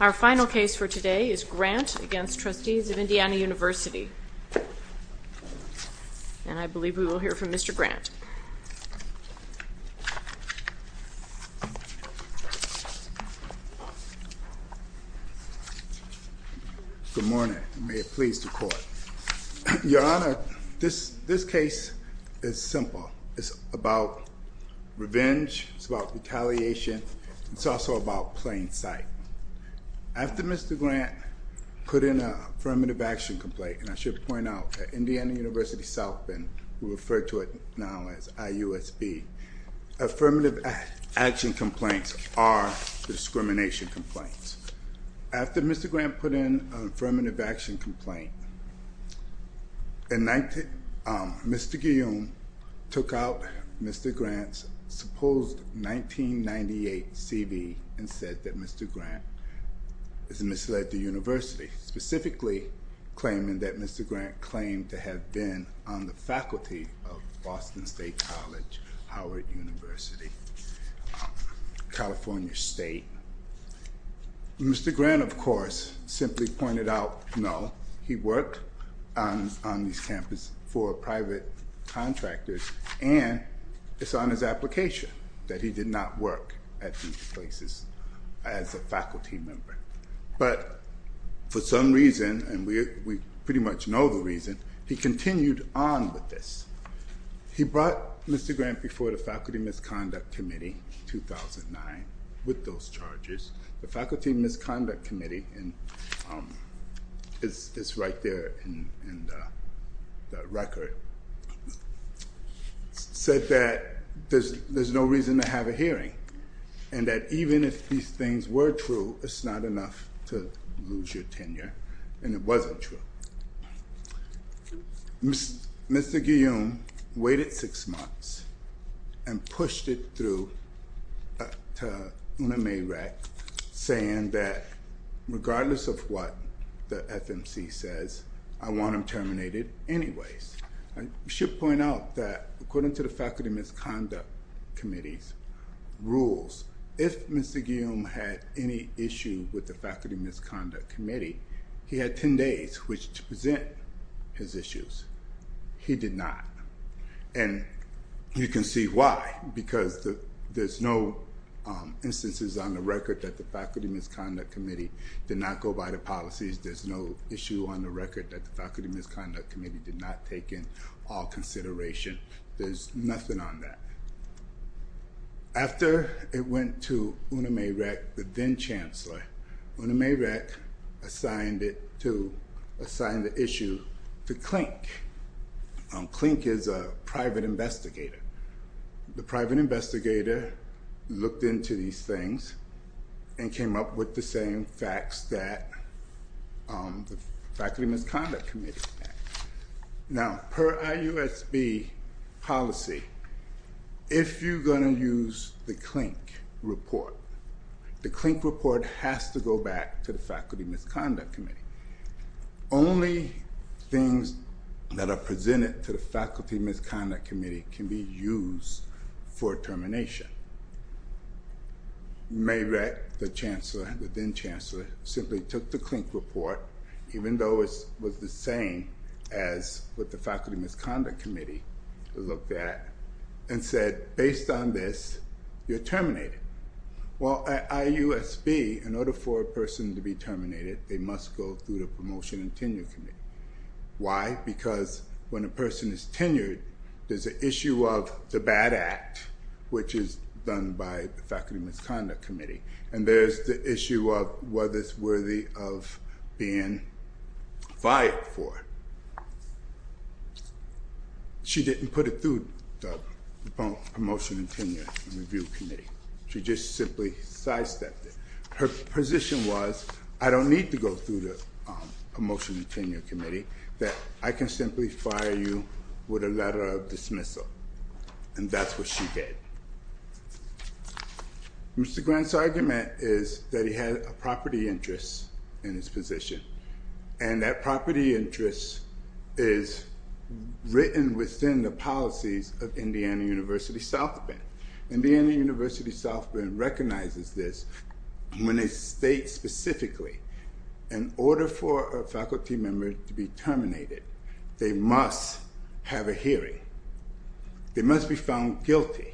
Our final case for today is Grant v. Trustees of Indiana University. And I believe we will hear from Mr. Grant. Good morning, and may it please the Court. Your Honor, this case is simple. It's about revenge, it's about retaliation, and it's also about plain sight. After Mr. Grant put in an affirmative action complaint, and I should point out that Indiana University South Bend, we refer to it now as IUSB, affirmative action complaints are discrimination complaints. After Mr. Grant put in an affirmative action complaint, Mr. Guillaume took out Mr. Grant's supposed 1998 CV and said that Mr. Grant has misled the university, specifically claiming that Mr. Grant claimed to have been on the faculty of Boston State College, Howard University, California State. Mr. Grant, of course, simply pointed out, no, he worked on this campus for private contractors, and it's on his application that he did not work at these places as a faculty member. But for some reason, and we pretty much know the reason, he continued on with this. He brought Mr. Grant before the Faculty Misconduct Committee in 2009 with those charges. The Faculty Misconduct Committee, it's right there in the record, said that there's no reason to have a hearing, and that even if these things were true, it's not enough to lose your tenure, and it wasn't true. Mr. Guillaume waited six months and pushed it through to Una Mae Rett, saying that regardless of what the FMC says, I want him terminated anyways. I should point out that according to the Faculty Misconduct Committee's rules, if Mr. Guillaume had any issue with the Faculty Misconduct Committee, he had 10 days to present his issues. He did not. And you can see why, because there's no instances on the record that the Faculty Misconduct Committee did not go by the policies. There's no issue on the record that the Faculty Misconduct Committee did not take in all consideration. There's nothing on that. After it went to Una Mae Rett, the then-Chancellor, Una Mae Rett assigned the issue to Klink. Klink is a private investigator. The private investigator looked into these things and came up with the same facts that the Faculty Misconduct Committee had. Now, per IUSB policy, if you're going to use the Klink report, the Klink report has to go back to the Faculty Misconduct Committee. Only things that are presented to the Faculty Misconduct Committee can be used for termination. Mae Rett, the then-Chancellor, simply took the Klink report, even though it was the same as what the Faculty Misconduct Committee looked at, and said, based on this, you're terminated. Well, at IUSB, in order for a person to be terminated, they must go through the Promotion and Tenure Committee. Why? Because when a person is tenured, there's an issue of the bad act, which is done by the Faculty Misconduct Committee, and there's the issue of whether it's worthy of being fired for. She didn't put it through the Promotion and Tenure and Review Committee. She just simply sidestepped it. Her position was, I don't need to go through the Promotion and Tenure Committee, that I can simply fire you with a letter of dismissal. And that's what she did. Mr. Grant's argument is that he had a property interest in his position, and that property interest is written within the policies of Indiana University South Bend. Indiana University South Bend recognizes this when they state specifically, in order for a faculty member to be terminated, they must have a hearing. They must be found guilty.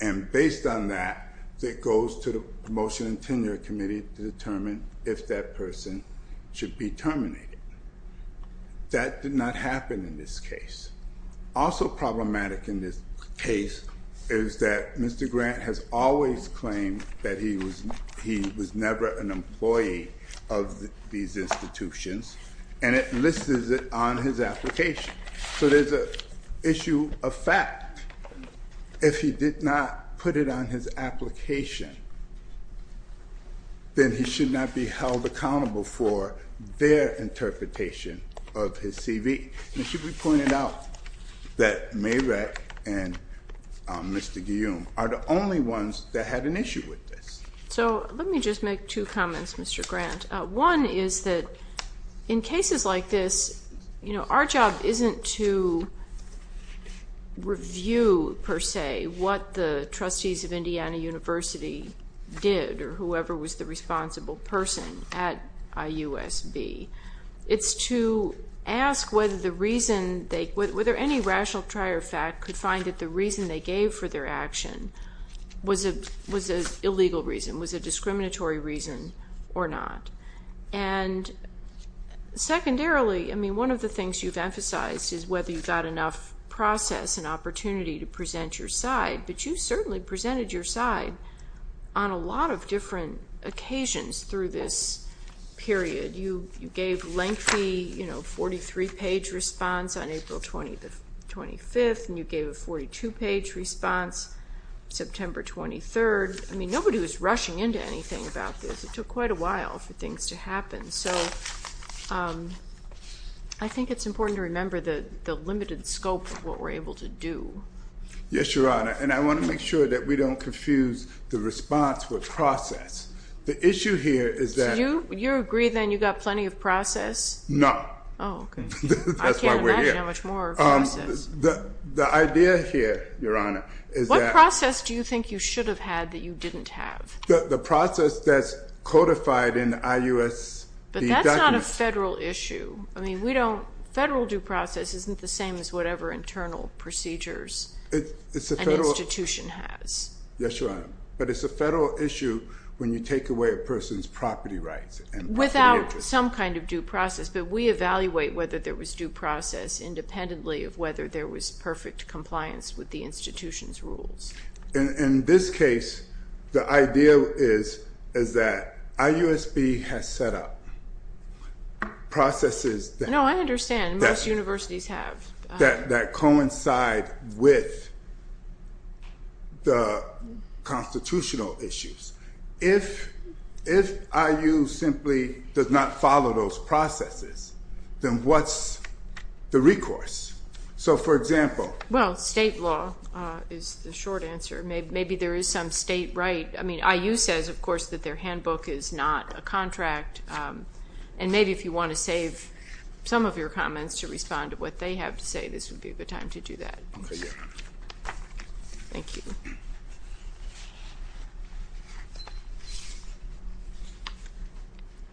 And based on that, it goes to the Promotion and Tenure Committee to determine if that person should be terminated. That did not happen in this case. Also problematic in this case is that Mr. Grant has always claimed that he was never an employee of these institutions, and it lists it on his application. So there's an issue of fact. If he did not put it on his application, then he should not be held accountable for their interpretation of his CV. And it should be pointed out that Mayreck and Mr. Guillaume are the only ones that had an issue with this. So let me just make two comments, Mr. Grant. One is that in cases like this, you know, our job isn't to review, per se, what the trustees of Indiana University did or whoever was the responsible person at IUSB. It's to ask whether any rational trier of fact could find that the reason they gave for their action was an illegal reason, was a discriminatory reason or not. And secondarily, I mean, one of the things you've emphasized is whether you've got enough process and opportunity to present your side, but you certainly presented your side on a lot of different occasions through this period. You gave lengthy, you know, 43-page response on April 25th, and you gave a 42-page response September 23rd. I mean, nobody was rushing into anything about this. It took quite a while for things to happen. So I think it's important to remember the limited scope of what we're able to do. Yes, Your Honor, and I want to make sure that we don't confuse the response with process. The issue here is that. So you agree, then, you've got plenty of process? No. Oh, okay. That's why we're here. I can't imagine how much more process. The idea here, Your Honor, is that. What process do you think you should have had that you didn't have? The process that's codified in IUSB documents. But that's not a federal issue. I mean, we don't. Federal due process isn't the same as whatever internal procedures an institution has. Yes, Your Honor. But it's a federal issue when you take away a person's property rights. Without some kind of due process. But we evaluate whether there was due process independently of whether there was perfect compliance with the institution's rules. In this case, the idea is that IUSB has set up processes that. No, I understand. Most universities have. That coincide with the constitutional issues. If IU simply does not follow those processes, then what's the recourse? So, for example. Well, state law is the short answer. Maybe there is some state right. I mean, IU says, of course, that their handbook is not a contract. And maybe if you want to save some of your comments to respond to what they have to say, this would be the time to do that. Thank you.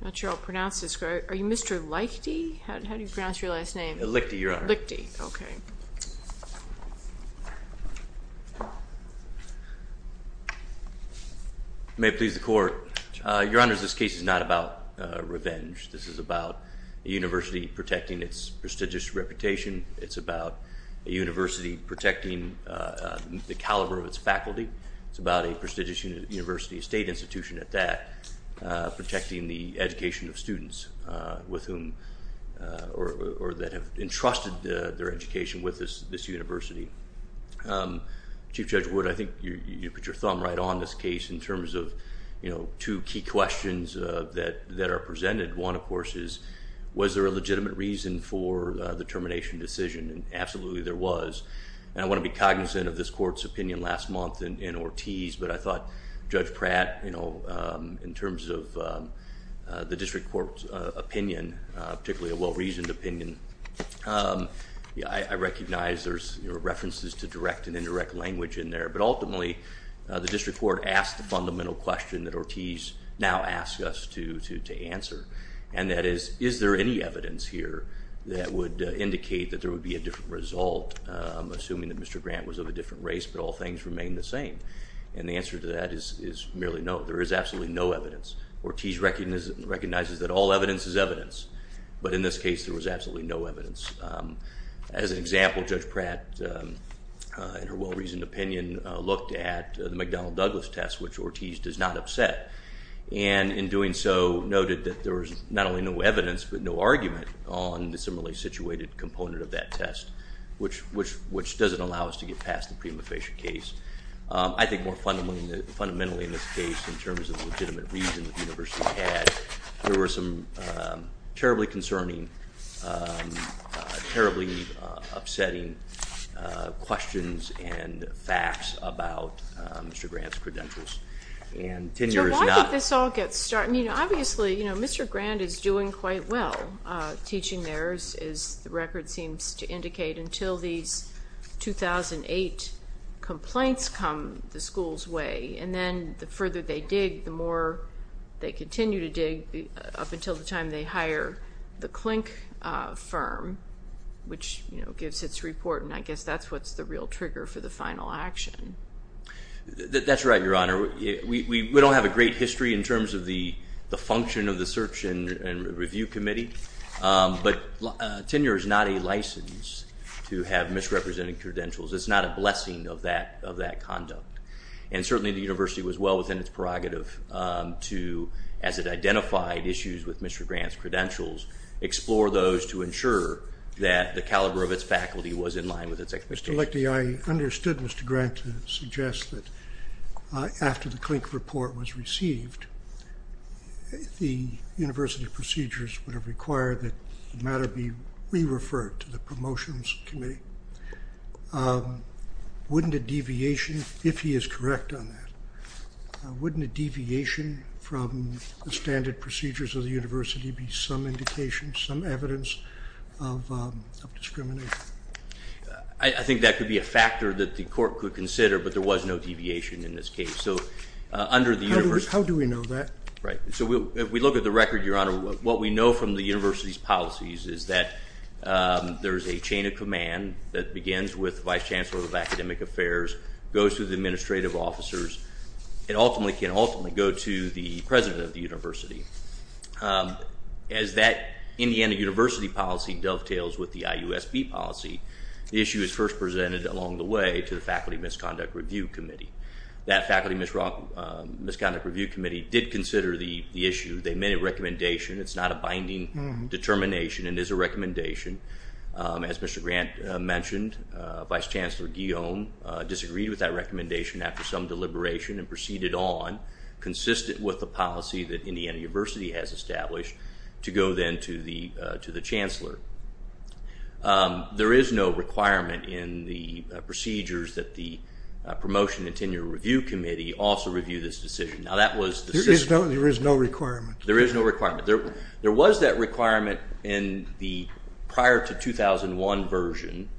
I'm not sure how to pronounce this. Are you Mr. Lichty? How do you pronounce your last name? Lichty, Your Honor. Lichty. Okay. May it please the Court. Your Honor, this case is not about revenge. This is about a university protecting its prestigious reputation. It's about a university protecting the caliber of its faculty. It's about a prestigious university, a state institution at that, protecting the education of students with whom or that have entrusted their education with this university. Chief Judge Wood, I think you put your thumb right on this case in terms of two key questions that are presented. One, of course, is was there a legitimate reason for the termination decision? Absolutely, there was. And I want to be cognizant of this Court's opinion last month in Ortiz, but I thought Judge Pratt, in terms of the district court's opinion, particularly a well-reasoned opinion, I recognize there's references to direct and indirect language in there, but ultimately, the district court asked the fundamental question that Ortiz now asks us to answer. And that is, is there any evidence here that would indicate that there would be a different result, assuming that Mr. Grant was of a different race, but all things remain the same? And the answer to that is merely no. There is absolutely no evidence. Ortiz recognizes that all evidence is evidence, but in this case, there was absolutely no evidence. As an example, Judge Pratt, in her well-reasoned opinion, looked at the McDonnell-Douglas test, which Ortiz does not upset, and in doing so, noted that there was not only no evidence, but no argument on the similarly situated component of that test, which doesn't allow us to get past the prima facie case. I think more fundamentally in this case, in terms of the legitimate reason the university had, there were some terribly concerning, terribly upsetting questions and facts about Mr. Grant's credentials. So why did this all get started? Obviously, Mr. Grant is doing quite well teaching there, as the record seems to indicate, until these 2008 complaints come the school's way. And then the further they dig, the more they continue to dig, up until the time they hire the Klink firm, which gives its report, and I guess that's what's the real trigger for the final action. That's right, Your Honor. We don't have a great history in terms of the function of the search and review committee, but tenure is not a license to have misrepresented credentials. It's not a blessing of that conduct. And certainly the university was well within its prerogative to, as it identified issues with Mr. Grant's credentials, explore those to ensure that the caliber of its faculty was in line with its expectations. Mr. Lechte, I understood Mr. Grant to suggest that after the Klink report was received, the university procedures would have required that the matter be re-referred to the Promotions Committee. Wouldn't a deviation, if he is correct on that, wouldn't a deviation from the standard procedures of the university be some indication, some evidence of discrimination? I think that could be a factor that the court could consider, but there was no deviation in this case. How do we know that? Right. So if we look at the record, Your Honor, what we know from the university's policies is that there's a chain of command that begins with the Vice Chancellor of Academic Affairs, goes through the administrative officers, and ultimately can ultimately go to the president of the university. As that Indiana University policy dovetails with the IUSB policy, the issue is first presented along the way to the Faculty Misconduct Review Committee. That Faculty Misconduct Review Committee did consider the issue. They made a recommendation. It's not a binding determination. It is a recommendation. As Mr. Grant mentioned, Vice Chancellor Guillaume disagreed with that recommendation after some deliberation and proceeded on, consistent with the policy that Indiana University has established, to go then to the Chancellor. There is no requirement in the procedures that the Promotion and Tenure Review Committee also review this decision. Now that was the system. There is no requirement? There is no requirement. There was that requirement in the prior to 2001 version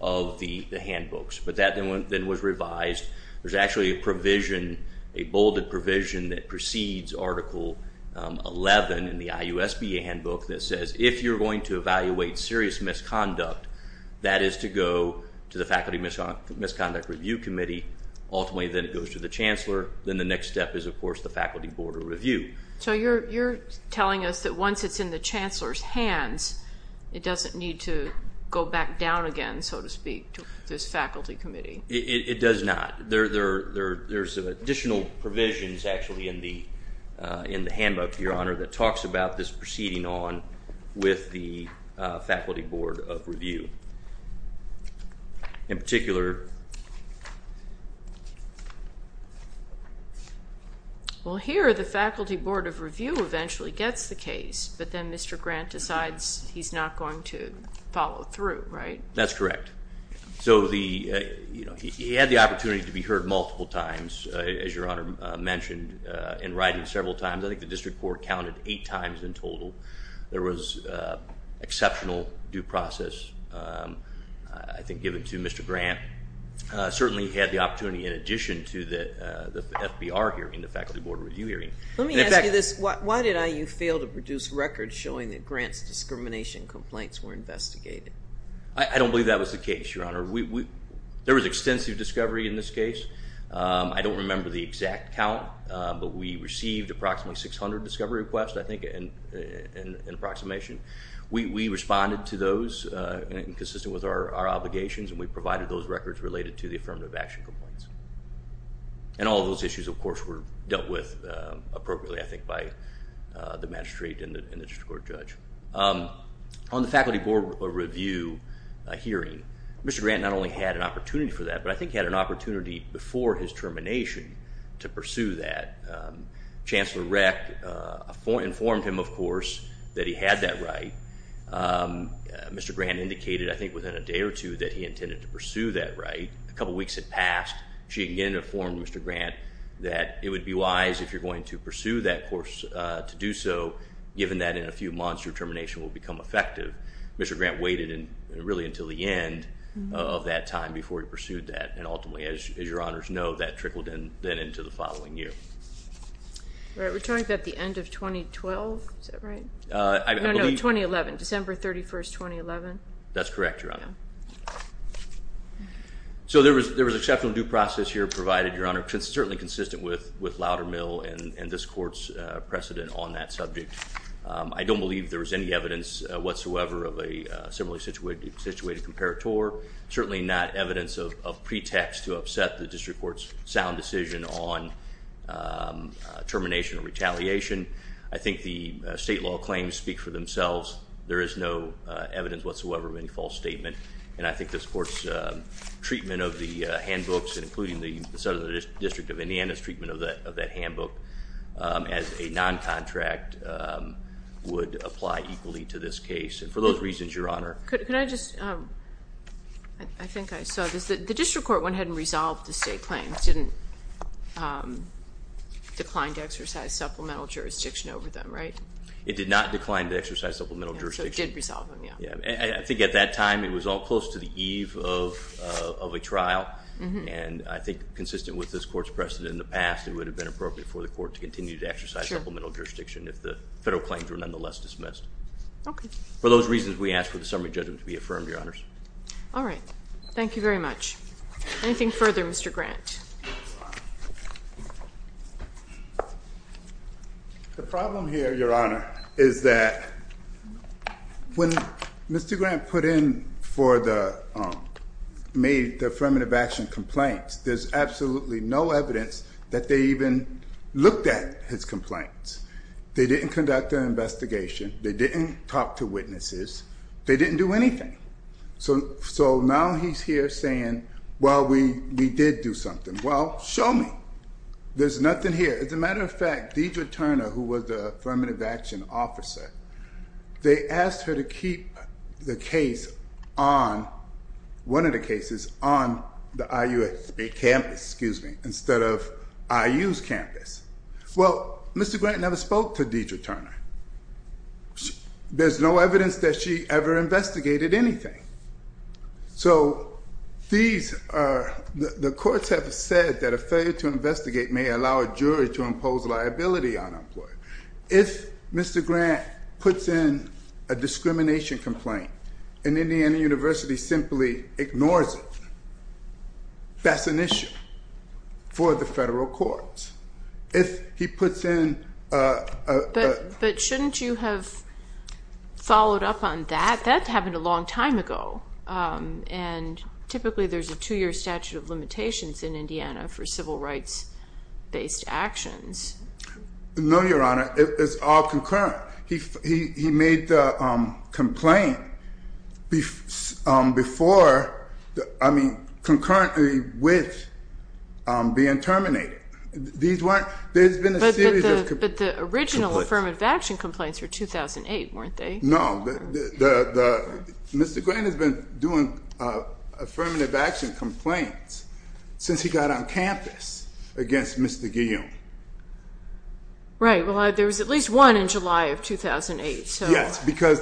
of the handbooks, but that then was revised. There's actually a provision, a bolded provision that precedes Article 11 in the IUSB handbook that says, if you're going to evaluate serious misconduct, that is to go to the Faculty Misconduct Review Committee. Ultimately then it goes to the Chancellor. Then the next step is, of course, the Faculty Board of Review. So you're telling us that once it's in the Chancellor's hands, it doesn't need to go back down again, so to speak, to this Faculty Committee? It does not. There's additional provisions actually in the handbook, Your Honor, that talks about this proceeding on with the Faculty Board of Review. In particular. Well, here the Faculty Board of Review eventually gets the case, but then Mr. Grant decides he's not going to follow through, right? That's correct. So he had the opportunity to be heard multiple times, as Your Honor mentioned, in writing several times. I think the district court counted eight times in total. There was exceptional due process, I think, given to Mr. Grant. Certainly he had the opportunity in addition to the FBR hearing, the Faculty Board of Review hearing. Let me ask you this. Why did IU fail to produce records showing that Grant's discrimination complaints were investigated? I don't believe that was the case, Your Honor. There was extensive discovery in this case. I don't remember the exact count, but we received approximately 600 discovery requests, I think, in approximation. We responded to those consistent with our obligations, and we provided those records related to the affirmative action complaints. And all of those issues, of course, were dealt with appropriately, I think, by the magistrate and the district court judge. On the Faculty Board of Review hearing, Mr. Grant not only had an opportunity for that, but I think he had an opportunity before his termination to pursue that. Chancellor Reck informed him, of course, that he had that right. Mr. Grant indicated, I think, within a day or two, that he intended to pursue that right. A couple weeks had passed. She again informed Mr. Grant that it would be wise, if you're going to pursue that course, to do so, given that in a few months your termination will become effective. Mr. Grant waited really until the end of that time before he pursued that, and ultimately, as Your Honors know, that trickled then into the following year. We're talking about the end of 2012, is that right? No, no, 2011, December 31, 2011. That's correct, Your Honor. So there was exceptional due process here provided, Your Honor, certainly consistent with Loudermill and this court's precedent on that subject. I don't believe there was any evidence whatsoever of a similarly situated comparator, certainly not evidence of pretext to upset the district court's sound decision on termination or retaliation. I think the state law claims speak for themselves. There is no evidence whatsoever of any false statement, and I think this court's treatment of the handbooks, including the Southern District of Indiana's treatment of that handbook, as a noncontract, would apply equally to this case. And for those reasons, Your Honor. Could I just, I think I saw this, the district court went ahead and resolved the state claims, didn't decline to exercise supplemental jurisdiction over them, right? It did not decline to exercise supplemental jurisdiction. So it did resolve them, yeah. I think at that time it was all close to the eve of a trial, and I think consistent with this court's precedent in the past, it would have been appropriate for the court to continue to exercise supplemental jurisdiction if the federal claims were nonetheless dismissed. Okay. For those reasons, we ask for the summary judgment to be affirmed, Your Honors. All right. Thank you very much. Anything further, Mr. Grant? The problem here, Your Honor, is that when Mr. Grant put in for the, made the affirmative action complaints, there's absolutely no evidence that they even looked at his complaints. They didn't conduct an investigation. They didn't talk to witnesses. They didn't do anything. So now he's here saying, well, we did do something. Well, show me. There's nothing here. As a matter of fact, Deidre Turner, who was the affirmative action officer, they asked her to keep the case on, one of the cases on the IUSB campus, excuse me, instead of IU's campus. Well, Mr. Grant never spoke to Deidre Turner. There's no evidence that she ever investigated anything. So these are, the courts have said that a failure to investigate may allow a jury to impose liability on an employee. If Mr. Grant puts in a discrimination complaint, and Indiana University simply ignores it, that's an issue for the federal courts. But shouldn't you have followed up on that? That happened a long time ago. And typically there's a two-year statute of limitations in Indiana for civil rights-based actions. No, Your Honor. It's all concurrent. He made the complaint before, I mean, concurrently with being terminated. There's been a series of complaints. But the original affirmative action complaints were 2008, weren't they? No. Mr. Grant has been doing affirmative action complaints since he got on campus against Mr. Guillaume. Right. Well, there was at least one in July of 2008. Yes. Because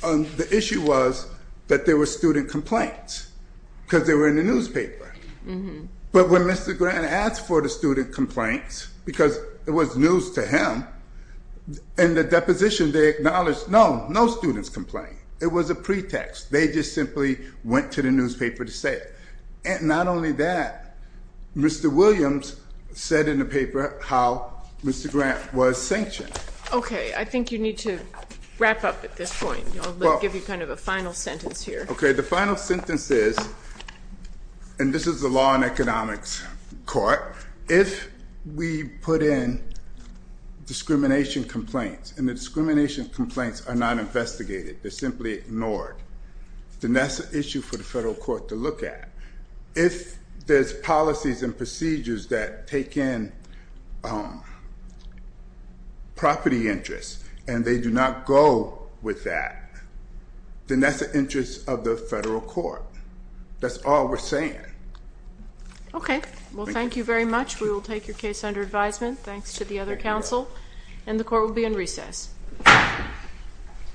the issue was that there were student complaints because they were in the newspaper. But when Mr. Grant asked for the student complaints, because it was news to him, in the deposition they acknowledged, no, no students complain. It was a pretext. They just simply went to the newspaper to say it. And not only that, Mr. Williams said in the paper how Mr. Grant was sanctioned. Okay. I think you need to wrap up at this point. I'll give you kind of a final sentence here. Okay. The final sentence is, and this is the law and economics court, if we put in discrimination complaints, and the discrimination complaints are not investigated. They're simply ignored. Then that's an issue for the federal court to look at. If there's policies and procedures that take in property interests and they do not go with that, then that's the interest of the federal court. That's all we're saying. Okay. Well, thank you very much. We will take your case under advisement. Thanks to the other counsel. And the court will be in recess.